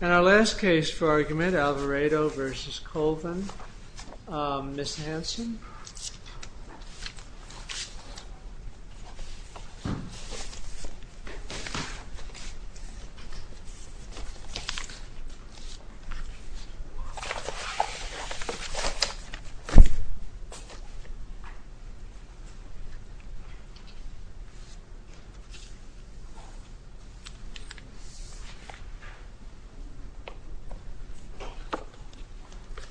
And our last case for argument, Alvaredo v. Colvin, Ms. Hanson.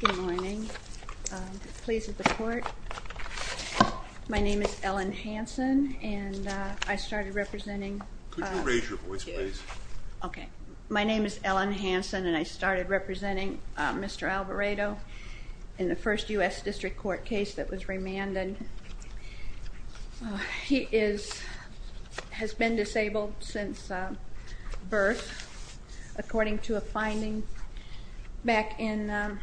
Good morning. Pleased to report. My name is Ellen Hanson and I started representing Mr. Alvaredo in the first U.S. District Court case that was remanded. He has been disabled since birth according to a finding back in,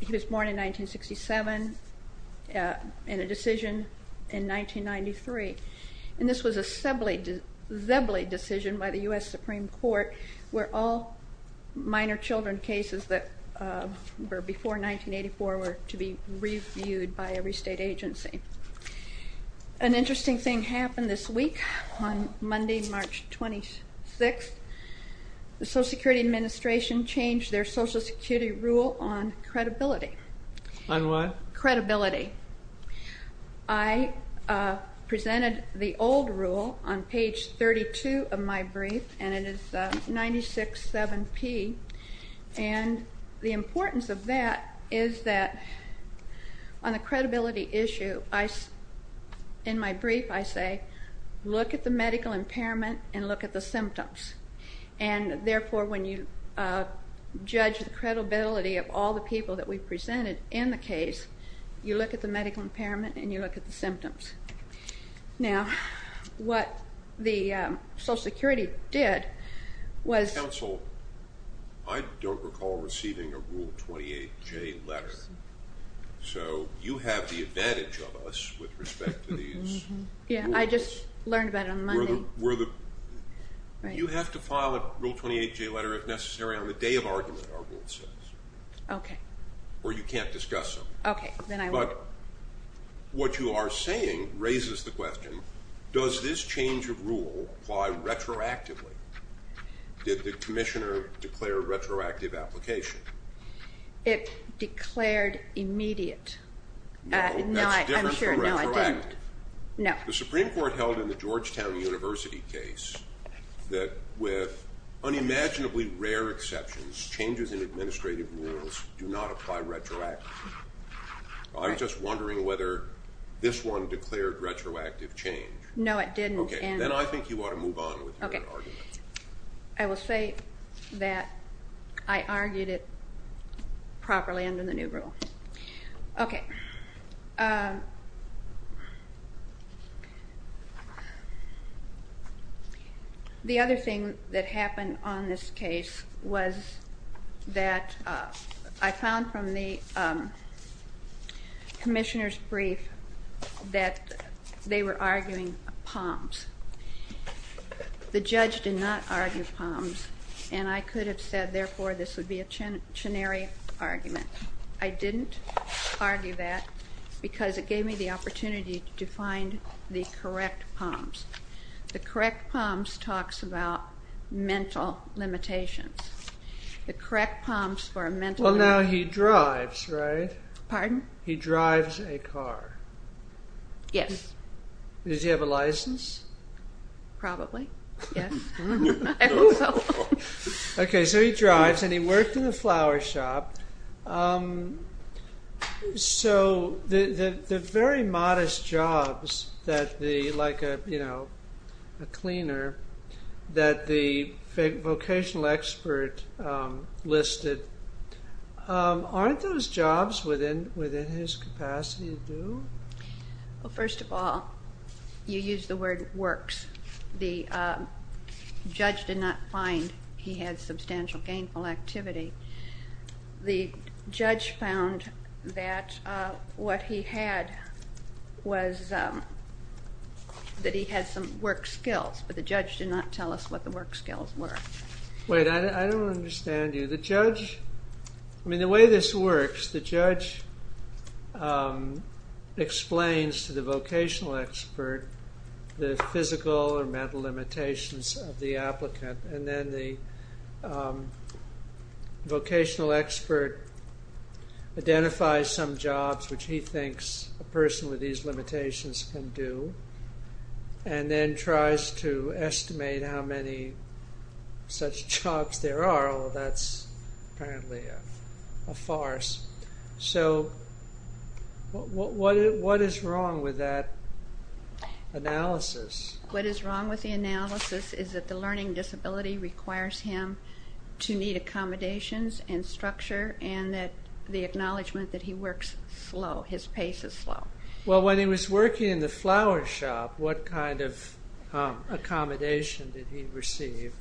he was born in 1967 and a decision in 1993. And this was a Zebley decision by the U.S. Supreme Court where all minor children cases that were before 1984 were to be reviewed by every state agency. An interesting thing happened this week on Monday, March 26th. The Social Security Administration changed their Social Security rule on credibility. On what? Credibility. I presented the old rule on page 32 of my brief and it is 96-7P and the importance of that is that on the credibility issue, in my brief I say, look at the medical impairment and look at the symptoms and therefore when you judge the credibility of all the people that we presented in the case, you look at the medical impairment and you look at the symptoms. Now, what the Social Security did was... Counsel, I don't recall receiving a Rule 28J letter, so you have the advantage of us with respect to these rules. Yeah, I just learned about it on Monday. You have to file a Rule 28J letter if necessary on the day of argument our rule says. Okay. Or you can't discuss them. Okay, then I won't. But what you are saying raises the question, does this change of rule apply retroactively? Did the Commissioner declare a retroactive application? It declared immediate. No, that's different from retroactive. No. The Supreme Court held in the Georgetown University case that with unimaginably rare exceptions, changes in administrative rules do not apply retroactively. I'm just wondering whether this one declared retroactive change. No, it didn't. Okay, then I think you ought to move on with your argument. I will say that I argued it properly under the new rule. Okay. The other thing that happened on this case was that I found from the Commissioner's brief that they were arguing POMS. The judge did not argue POMS, and I could have said, therefore, this would be a chenery argument. I didn't argue that because it gave me the opportunity to find the correct POMS. The correct POMS talks about mental limitations. The correct POMS for a mental... Well, now he drives, right? Pardon? He drives a car. Yes. Does he have a license? Probably. Yes. I hope so. Okay, so he drives, and he worked in a flower shop. So the very modest jobs like a cleaner that the vocational expert listed, aren't those jobs within his capacity to do? Well, first of all, you used the word works. The judge did not find he had substantial gainful activity. The judge found that what he had was that he had some work skills, but the judge did not tell us what the work skills were. Wait, I don't understand you. The judge... I mean, the way this works, the judge explains to the vocational expert the physical or mental limitations of the applicant, and then the vocational expert identifies some jobs which he thinks a person with these limitations can do, and then tries to estimate how many such jobs there are. Well, that's apparently a farce. So, what is wrong with that analysis? What is wrong with the analysis is that the learning disability requires him to meet accommodations and structure, and that the acknowledgement that he works slow, his pace is slow. Well, when he was working in the flower shop, what kind of accommodation did he receive?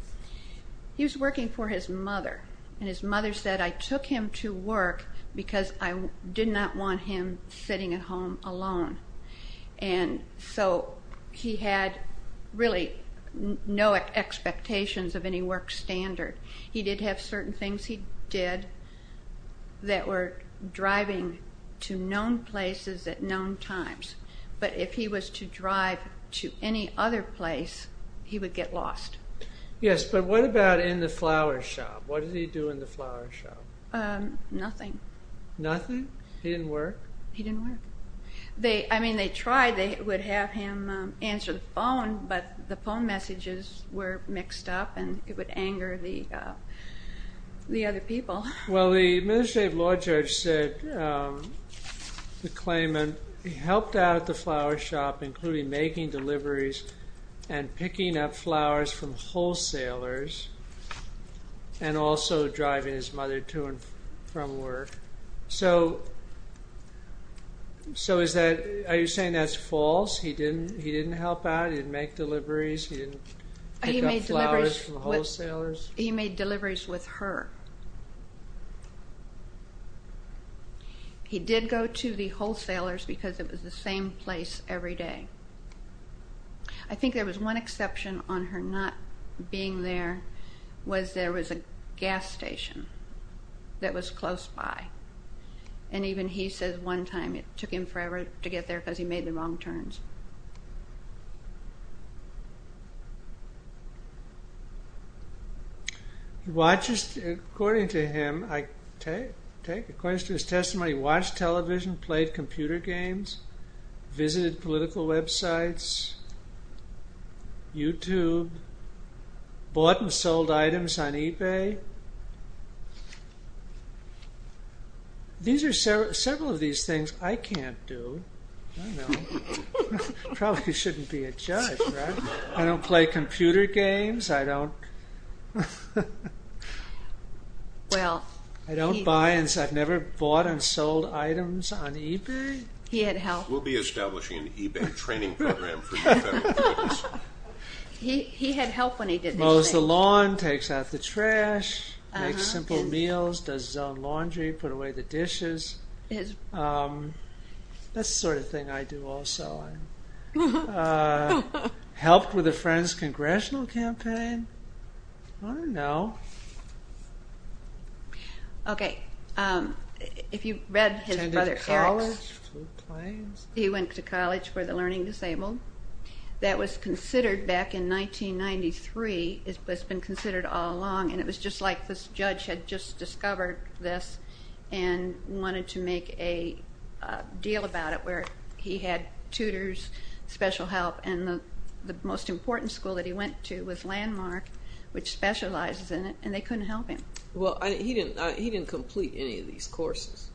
He was working for his mother, and his mother said, I took him to work because I did not want him sitting at home alone. And so, he had really no expectations of any work standard. He did have certain things he did that were driving to known places at known times, but if he was to drive to any other place, he would get lost. Yes, but what about in the flower shop? What did he do in the flower shop? Nothing. Nothing? He didn't work? He didn't work. I mean, they tried, they would have him answer the phone, but the phone messages were mixed up, and it would anger the other people. Well, the administrative law judge said, the claimant helped out at the flower shop, including making deliveries and picking up flowers from wholesalers, and also driving his mother to and from work. So, are you saying that's false? He didn't help out? He didn't make deliveries? He didn't pick up flowers from wholesalers? He made deliveries with her. He did go to the wholesalers because it was the same place every day. I think there was one exception on her not being there, was there was a gas station that was close by, and even he says one time it took him forever to get there because he made the wrong turns. According to him, according to his testimony, he watched television, played computer games, visited political websites, YouTube, bought and sold items on eBay. These are several of these things I can't do. I probably shouldn't be a judge, right? I don't play computer games. I don't buy and sell. I've never bought and sold items on eBay. He had help. We'll be establishing an eBay training program for you. He had help when he did this. Makes simple meals, does his own laundry, puts away the dishes. That's the sort of thing I do also. Helped with a friend's congressional campaign? I don't know. He went to college for the learning disabled. That was considered back in 1993. It's been considered all along, and it was just like this judge had just discovered this and wanted to make a deal about it where he had tutors, special help, and the most important school that he went to was Landmark, which specializes in it, and they couldn't help him. He didn't complete any of these courses.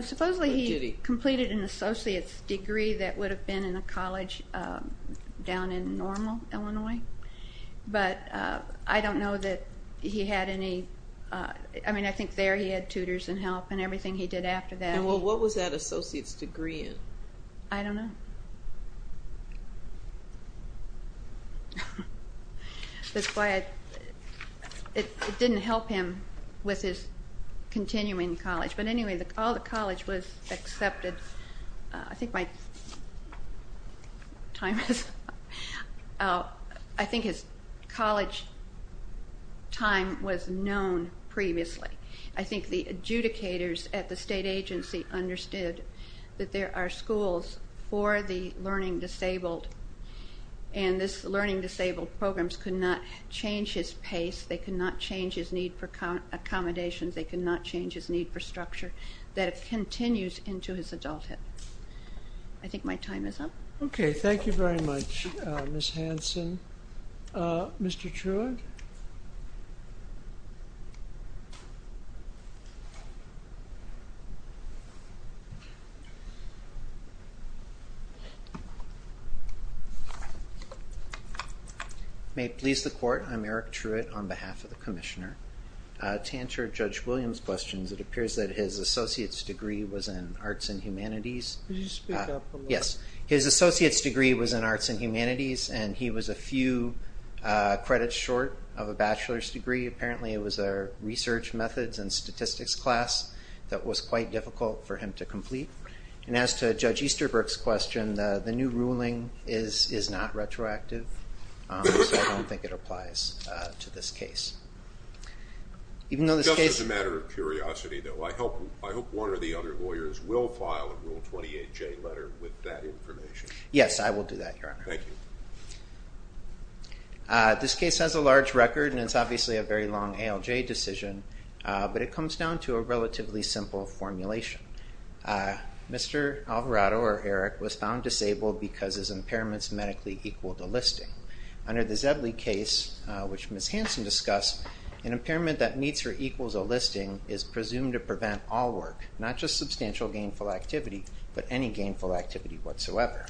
Supposedly he completed an associate's degree that would have been in a college down in Normal, Illinois. I think there he had tutors and help and everything he did after that. What was that associate's degree in? I don't know. That's why it didn't help him with his continuing college. But anyway, all the college was accepted. I think my time is up. I think his college time was known previously. I think the adjudicators at the state agency understood that there are schools for the learning disabled, and these learning disabled programs could not change his pace. They could not change his need for accommodations. They could not change his need for structure. That continues into his adulthood. I think my time is up. Okay, thank you very much, Ms. Hanson. Mr. Truitt? May it please the Court, I'm Eric Truitt on behalf of the Commissioner. To answer Judge Williams' questions, it appears that his associate's degree was in Arts and Humanities. Could you speak up a little? Yes, his associate's degree was in Arts and Humanities, and he was a few credits short of a bachelor's degree. Apparently, it was a research methods and statistics class that was quite difficult for him to complete. And as to Judge Easterbrook's question, the new ruling is not retroactive, so I don't think it applies to this case. Just as a matter of curiosity, though, I hope one or the other lawyers will file a Rule 28J letter with that information. Yes, I will do that, Your Honor. Thank you. This case has a large record, and it's obviously a very long ALJ decision, but it comes down to a relatively simple formulation. Mr. Alvarado, or Eric, was found disabled because his impairments medically equaled the listing. Under the Zebley case, which Ms. Hanson discussed, an impairment that meets or equals a listing is presumed to prevent all work, not just substantial gainful activity, but any gainful activity whatsoever.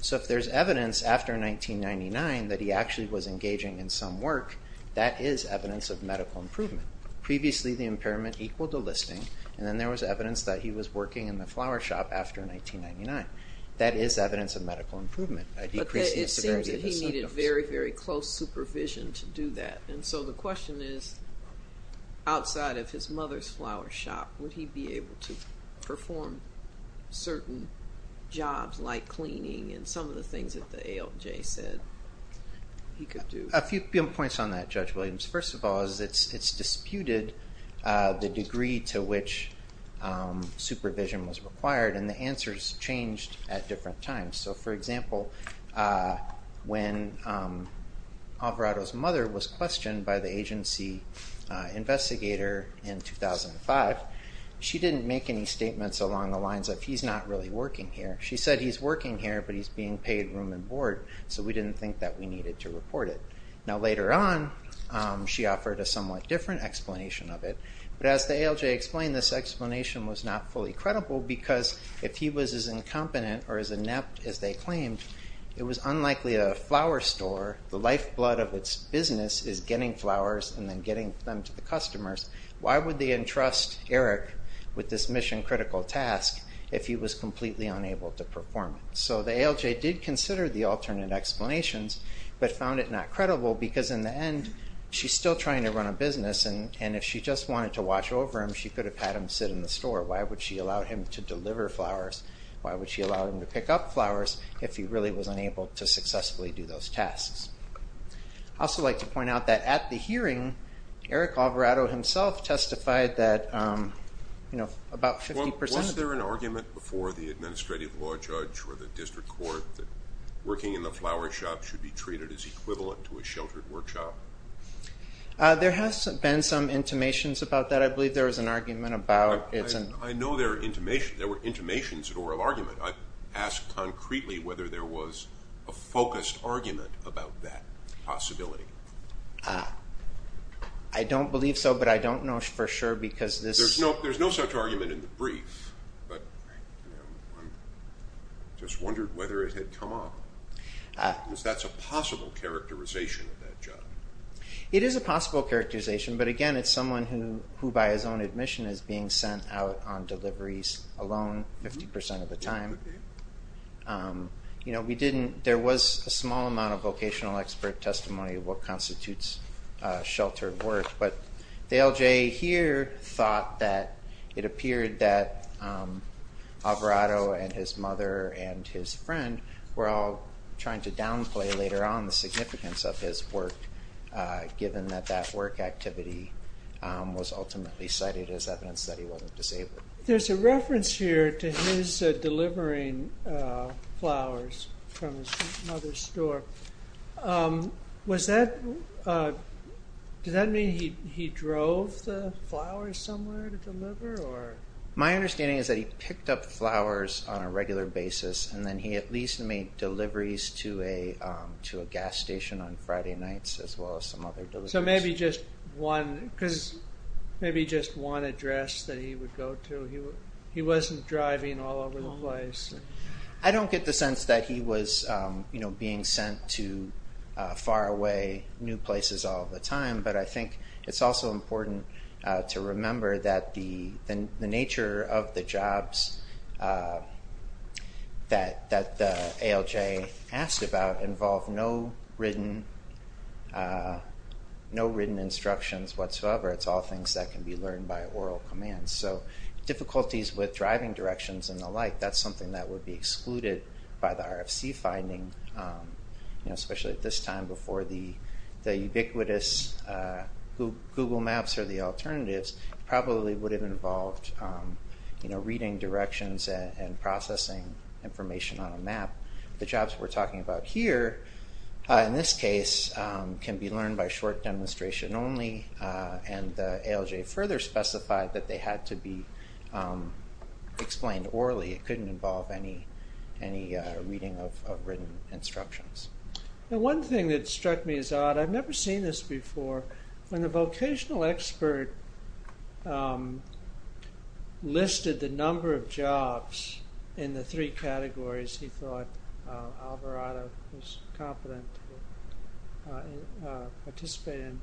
So if there's evidence after 1999 that he actually was engaging in some work, that is evidence of medical improvement. Previously, the impairment equaled the listing, and then there was evidence that he was working in the flower shop after 1999. That is evidence of medical improvement. But it seems that he needed very, very close supervision to do that. And so the question is, outside of his mother's flower shop, would he be able to perform certain jobs like cleaning and some of the things that the ALJ said he could do? A few points on that, Judge Williams. First of all, it's disputed the degree to which supervision was required, and the answers changed at different times. So, for example, when Alvarado's mother was questioned by the agency investigator in 2005, she didn't make any statements along the lines of, he's not really working here. She said he's working here, but he's being paid room and board, so we didn't think that we needed to report it. Now, later on, she offered a somewhat different explanation of it. But as the ALJ explained, this explanation was not fully credible, because if he was as incompetent or as inept as they claimed, it was unlikely a flower store, the lifeblood of its business, is getting flowers and then getting them to the customers. Why would they entrust Eric with this mission-critical task if he was completely unable to perform it? So the ALJ did consider the alternate explanations, but found it not credible, because in the end, she's still trying to run a business, and if she just wanted to watch over him, she could have had him sit in the store. Why would she allow him to deliver flowers? Why would she allow him to pick up flowers if he really was unable to successfully do those tasks? I'd also like to point out that at the hearing, Eric Alvarado himself testified that about 50% of the... There has been some intimations about that. I believe there was an argument about... I know there were intimations or an argument. I asked concretely whether there was a focused argument about that possibility. I don't believe so, but I don't know for sure, because this... There's no such argument in the brief, but I just wondered whether it had come up. Because that's a possible characterization of that job. It is a possible characterization, but again, it's someone who, by his own admission, is being sent out on deliveries alone 50% of the time. We didn't... There was a small amount of vocational expert testimony of what constitutes sheltered work, but Dale Jay here thought that it appeared that Alvarado and his mother and his friend were all trying to downplay later on the significance of his work, given that that work activity was ultimately cited as evidence that he wasn't disabled. There's a reference here to his delivering flowers from his mother's store. Does that mean he drove the flowers somewhere to deliver? My understanding is that he picked up flowers on a regular basis, and then he at least made deliveries to a gas station on Friday nights, as well as some other deliveries. So maybe just one, because maybe just one address that he would go to. He wasn't driving all over the place. I don't get the sense that he was being sent to far away new places all the time, but I think it's also important to remember that the nature of the jobs that the ALJ asked about involved no written instructions whatsoever. It's all things that can be learned by oral commands. So difficulties with driving directions and the like, that's something that would be excluded by the RFC finding, especially at this time before the ubiquitous Google Maps or the alternatives probably would have involved reading directions and processing information on a map. The jobs we're talking about here, in this case, can be learned by short demonstration only, and the ALJ further specified that they had to be explained orally. It couldn't involve any reading of written instructions. One thing that struck me as odd, I've never seen this before, when the vocational expert listed the number of jobs in the three categories he thought Alvarado was competent to participate in,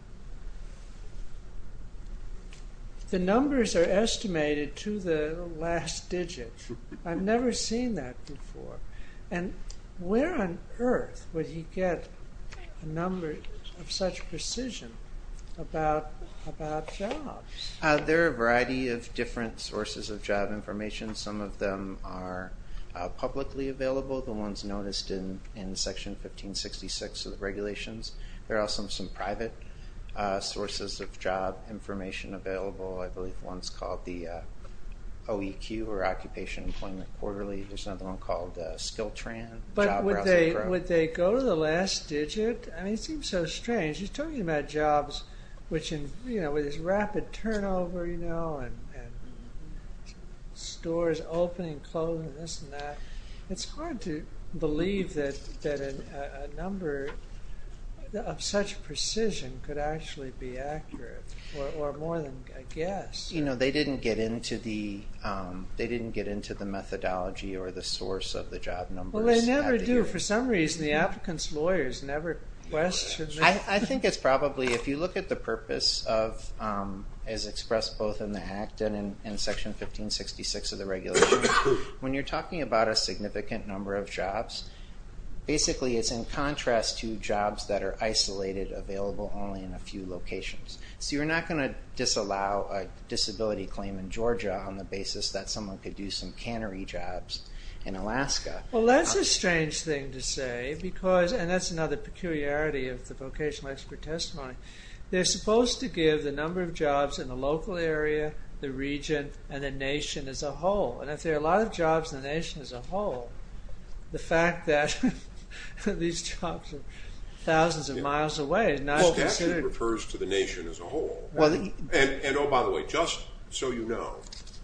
the numbers are estimated to the last digit. I've never seen that before. Where on earth would he get a number of such precision about jobs? There are a variety of different sources of job information. Some of them are publicly available, the ones noticed in Section 1566 of the regulations. There are also some private sources of job information available. I believe one's called the OEQ, or Occupational Employment Quarterly. There's another one called the SkillTran. But would they go to the last digit? It seems so strange. He's talking about jobs with this rapid turnover and stores opening, closing, this and that. It's hard to believe that a number of such precision could actually be accurate, or more than a guess. They didn't get into the methodology or the source of the job numbers. Well, they never do. For some reason, the applicant's lawyers never question them. I think it's probably, if you look at the purpose of, as expressed both in the HACT and in Section 1566 of the regulations, when you're talking about a significant number of jobs, basically it's in contrast to jobs that are isolated, available only in a few locations. So you're not going to disallow a disability claim in Georgia on the basis that someone could do some cannery jobs in Alaska. Well, that's a strange thing to say. And that's another peculiarity of the vocational expert testimony. They're supposed to give the number of jobs in the local area, the region, and the nation as a whole. And if there are a lot of jobs in the nation as a whole, the statute refers to the nation as a whole. And oh, by the way, just so you know,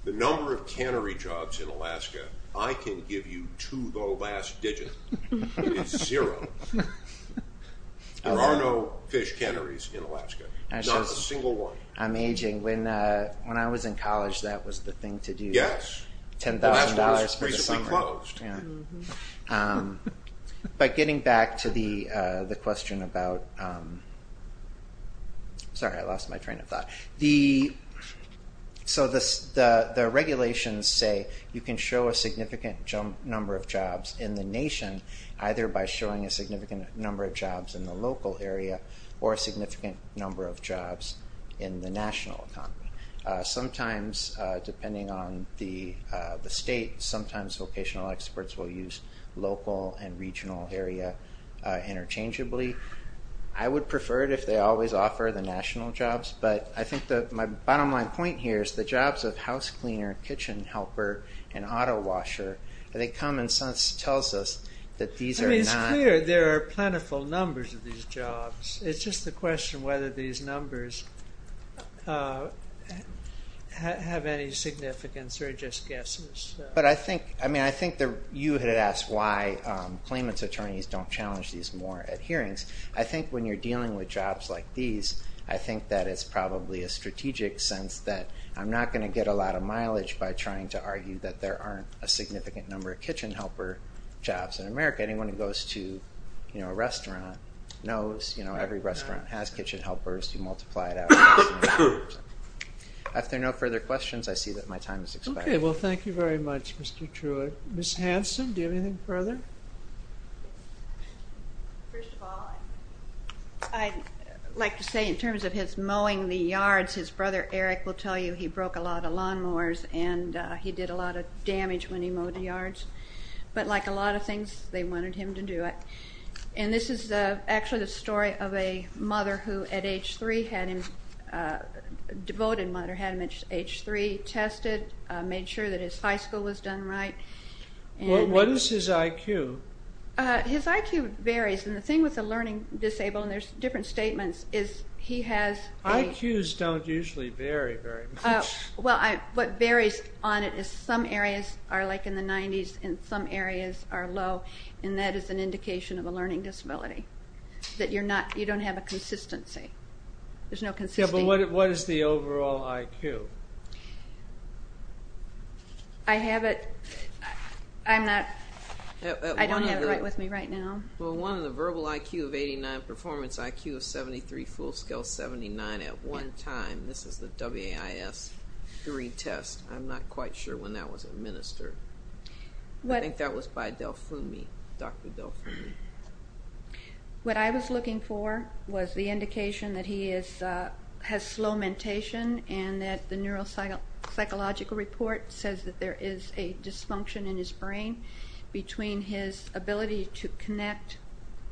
the number of cannery jobs in Alaska, I can give you to the last digit. It's zero. There are no fish canneries in Alaska. Not a single one. I'm aging. When I was in college, that was the thing to do. Yes. $10,000 for the summer. Alaska was reasonably closed. But getting back to the question about... Sorry, I lost my train of thought. So the regulations say you can show a significant number of jobs in the nation either by showing a significant number of jobs in the local area or a significant number of jobs in the national economy. Sometimes, depending on the state, sometimes vocational experts will use local and regional area interchangeably. I would prefer it if they always offer the national jobs. But I think my bottom line point here is the jobs of house cleaner, kitchen helper, and auto washer, they come and tell us that these are not... I mean, it's clear there are plentiful numbers of these jobs. It's just the question whether these numbers have any significance or are just guesses. But I think you had asked why claimants' attorneys don't challenge these more at hearings. I think when you're dealing with jobs like these, I think that it's probably a strategic sense that I'm not going to get a lot of mileage by trying to argue that there aren't a significant number of kitchen helper jobs in America. Anyone who goes to a restaurant knows every restaurant has kitchen helpers. You multiply it out. If there are no further questions, I see that my time is expired. Okay. Well, thank you very much, Mr. Truitt. Ms. Hanson, do you have anything further? First of all, I'd like to say in terms of his mowing the yards, his brother Eric will tell you he broke a lot of lawnmowers and he did a lot of damage when he mowed the yards. But like a lot of things, they wanted him to do it. And this is actually the story of a mother who at age three had him, a devoted mother had him at age three, tested, made sure that his high school was done right. What is his IQ? His IQ varies, and the thing with a learning disabled, and there's different statements, is he has a... IQs don't usually vary very much. Well, what varies on it is some areas are like in the 90s and some areas are low, and that is an indication of a learning disability, that you don't have a consistency. There's no consistency. Yeah, but what is the overall IQ? I have it. I don't have it right with me right now. Well, one of the verbal IQ of 89, performance IQ of 73, full skill 79 at one time. This is the WAIS-3 test. I'm not quite sure when that was administered. I think that was by Del Fumi, Dr. Del Fumi. What I was looking for was the indication that he has slow mentation and that the neuropsychological report says that there is a dysfunction in his brain between his ability to connect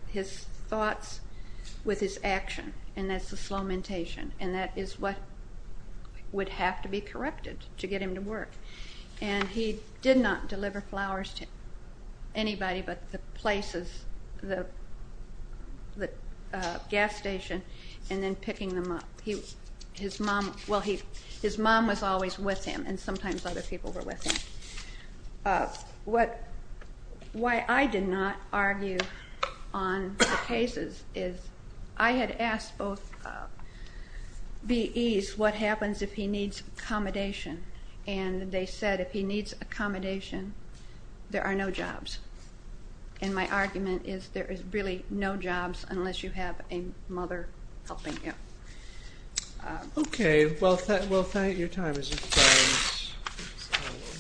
his thoughts with his action, and that's the slow mentation. And that is what would have to be corrected to get him to work. And he did not deliver flowers to anybody but the places, the gas station, and then picking them up. His mom was always with him, and sometimes other people were with him. Why I did not argue on the cases is I had asked both VEs what happens if he needs accommodation, and they said if he needs accommodation, there are no jobs. And my argument is there is really no jobs unless you have a mother helping you. Okay, well, thank you. Your time has expired,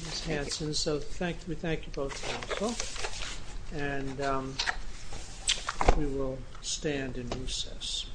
Ms. Hanson. So we thank you both, counsel, and we will stand in recess.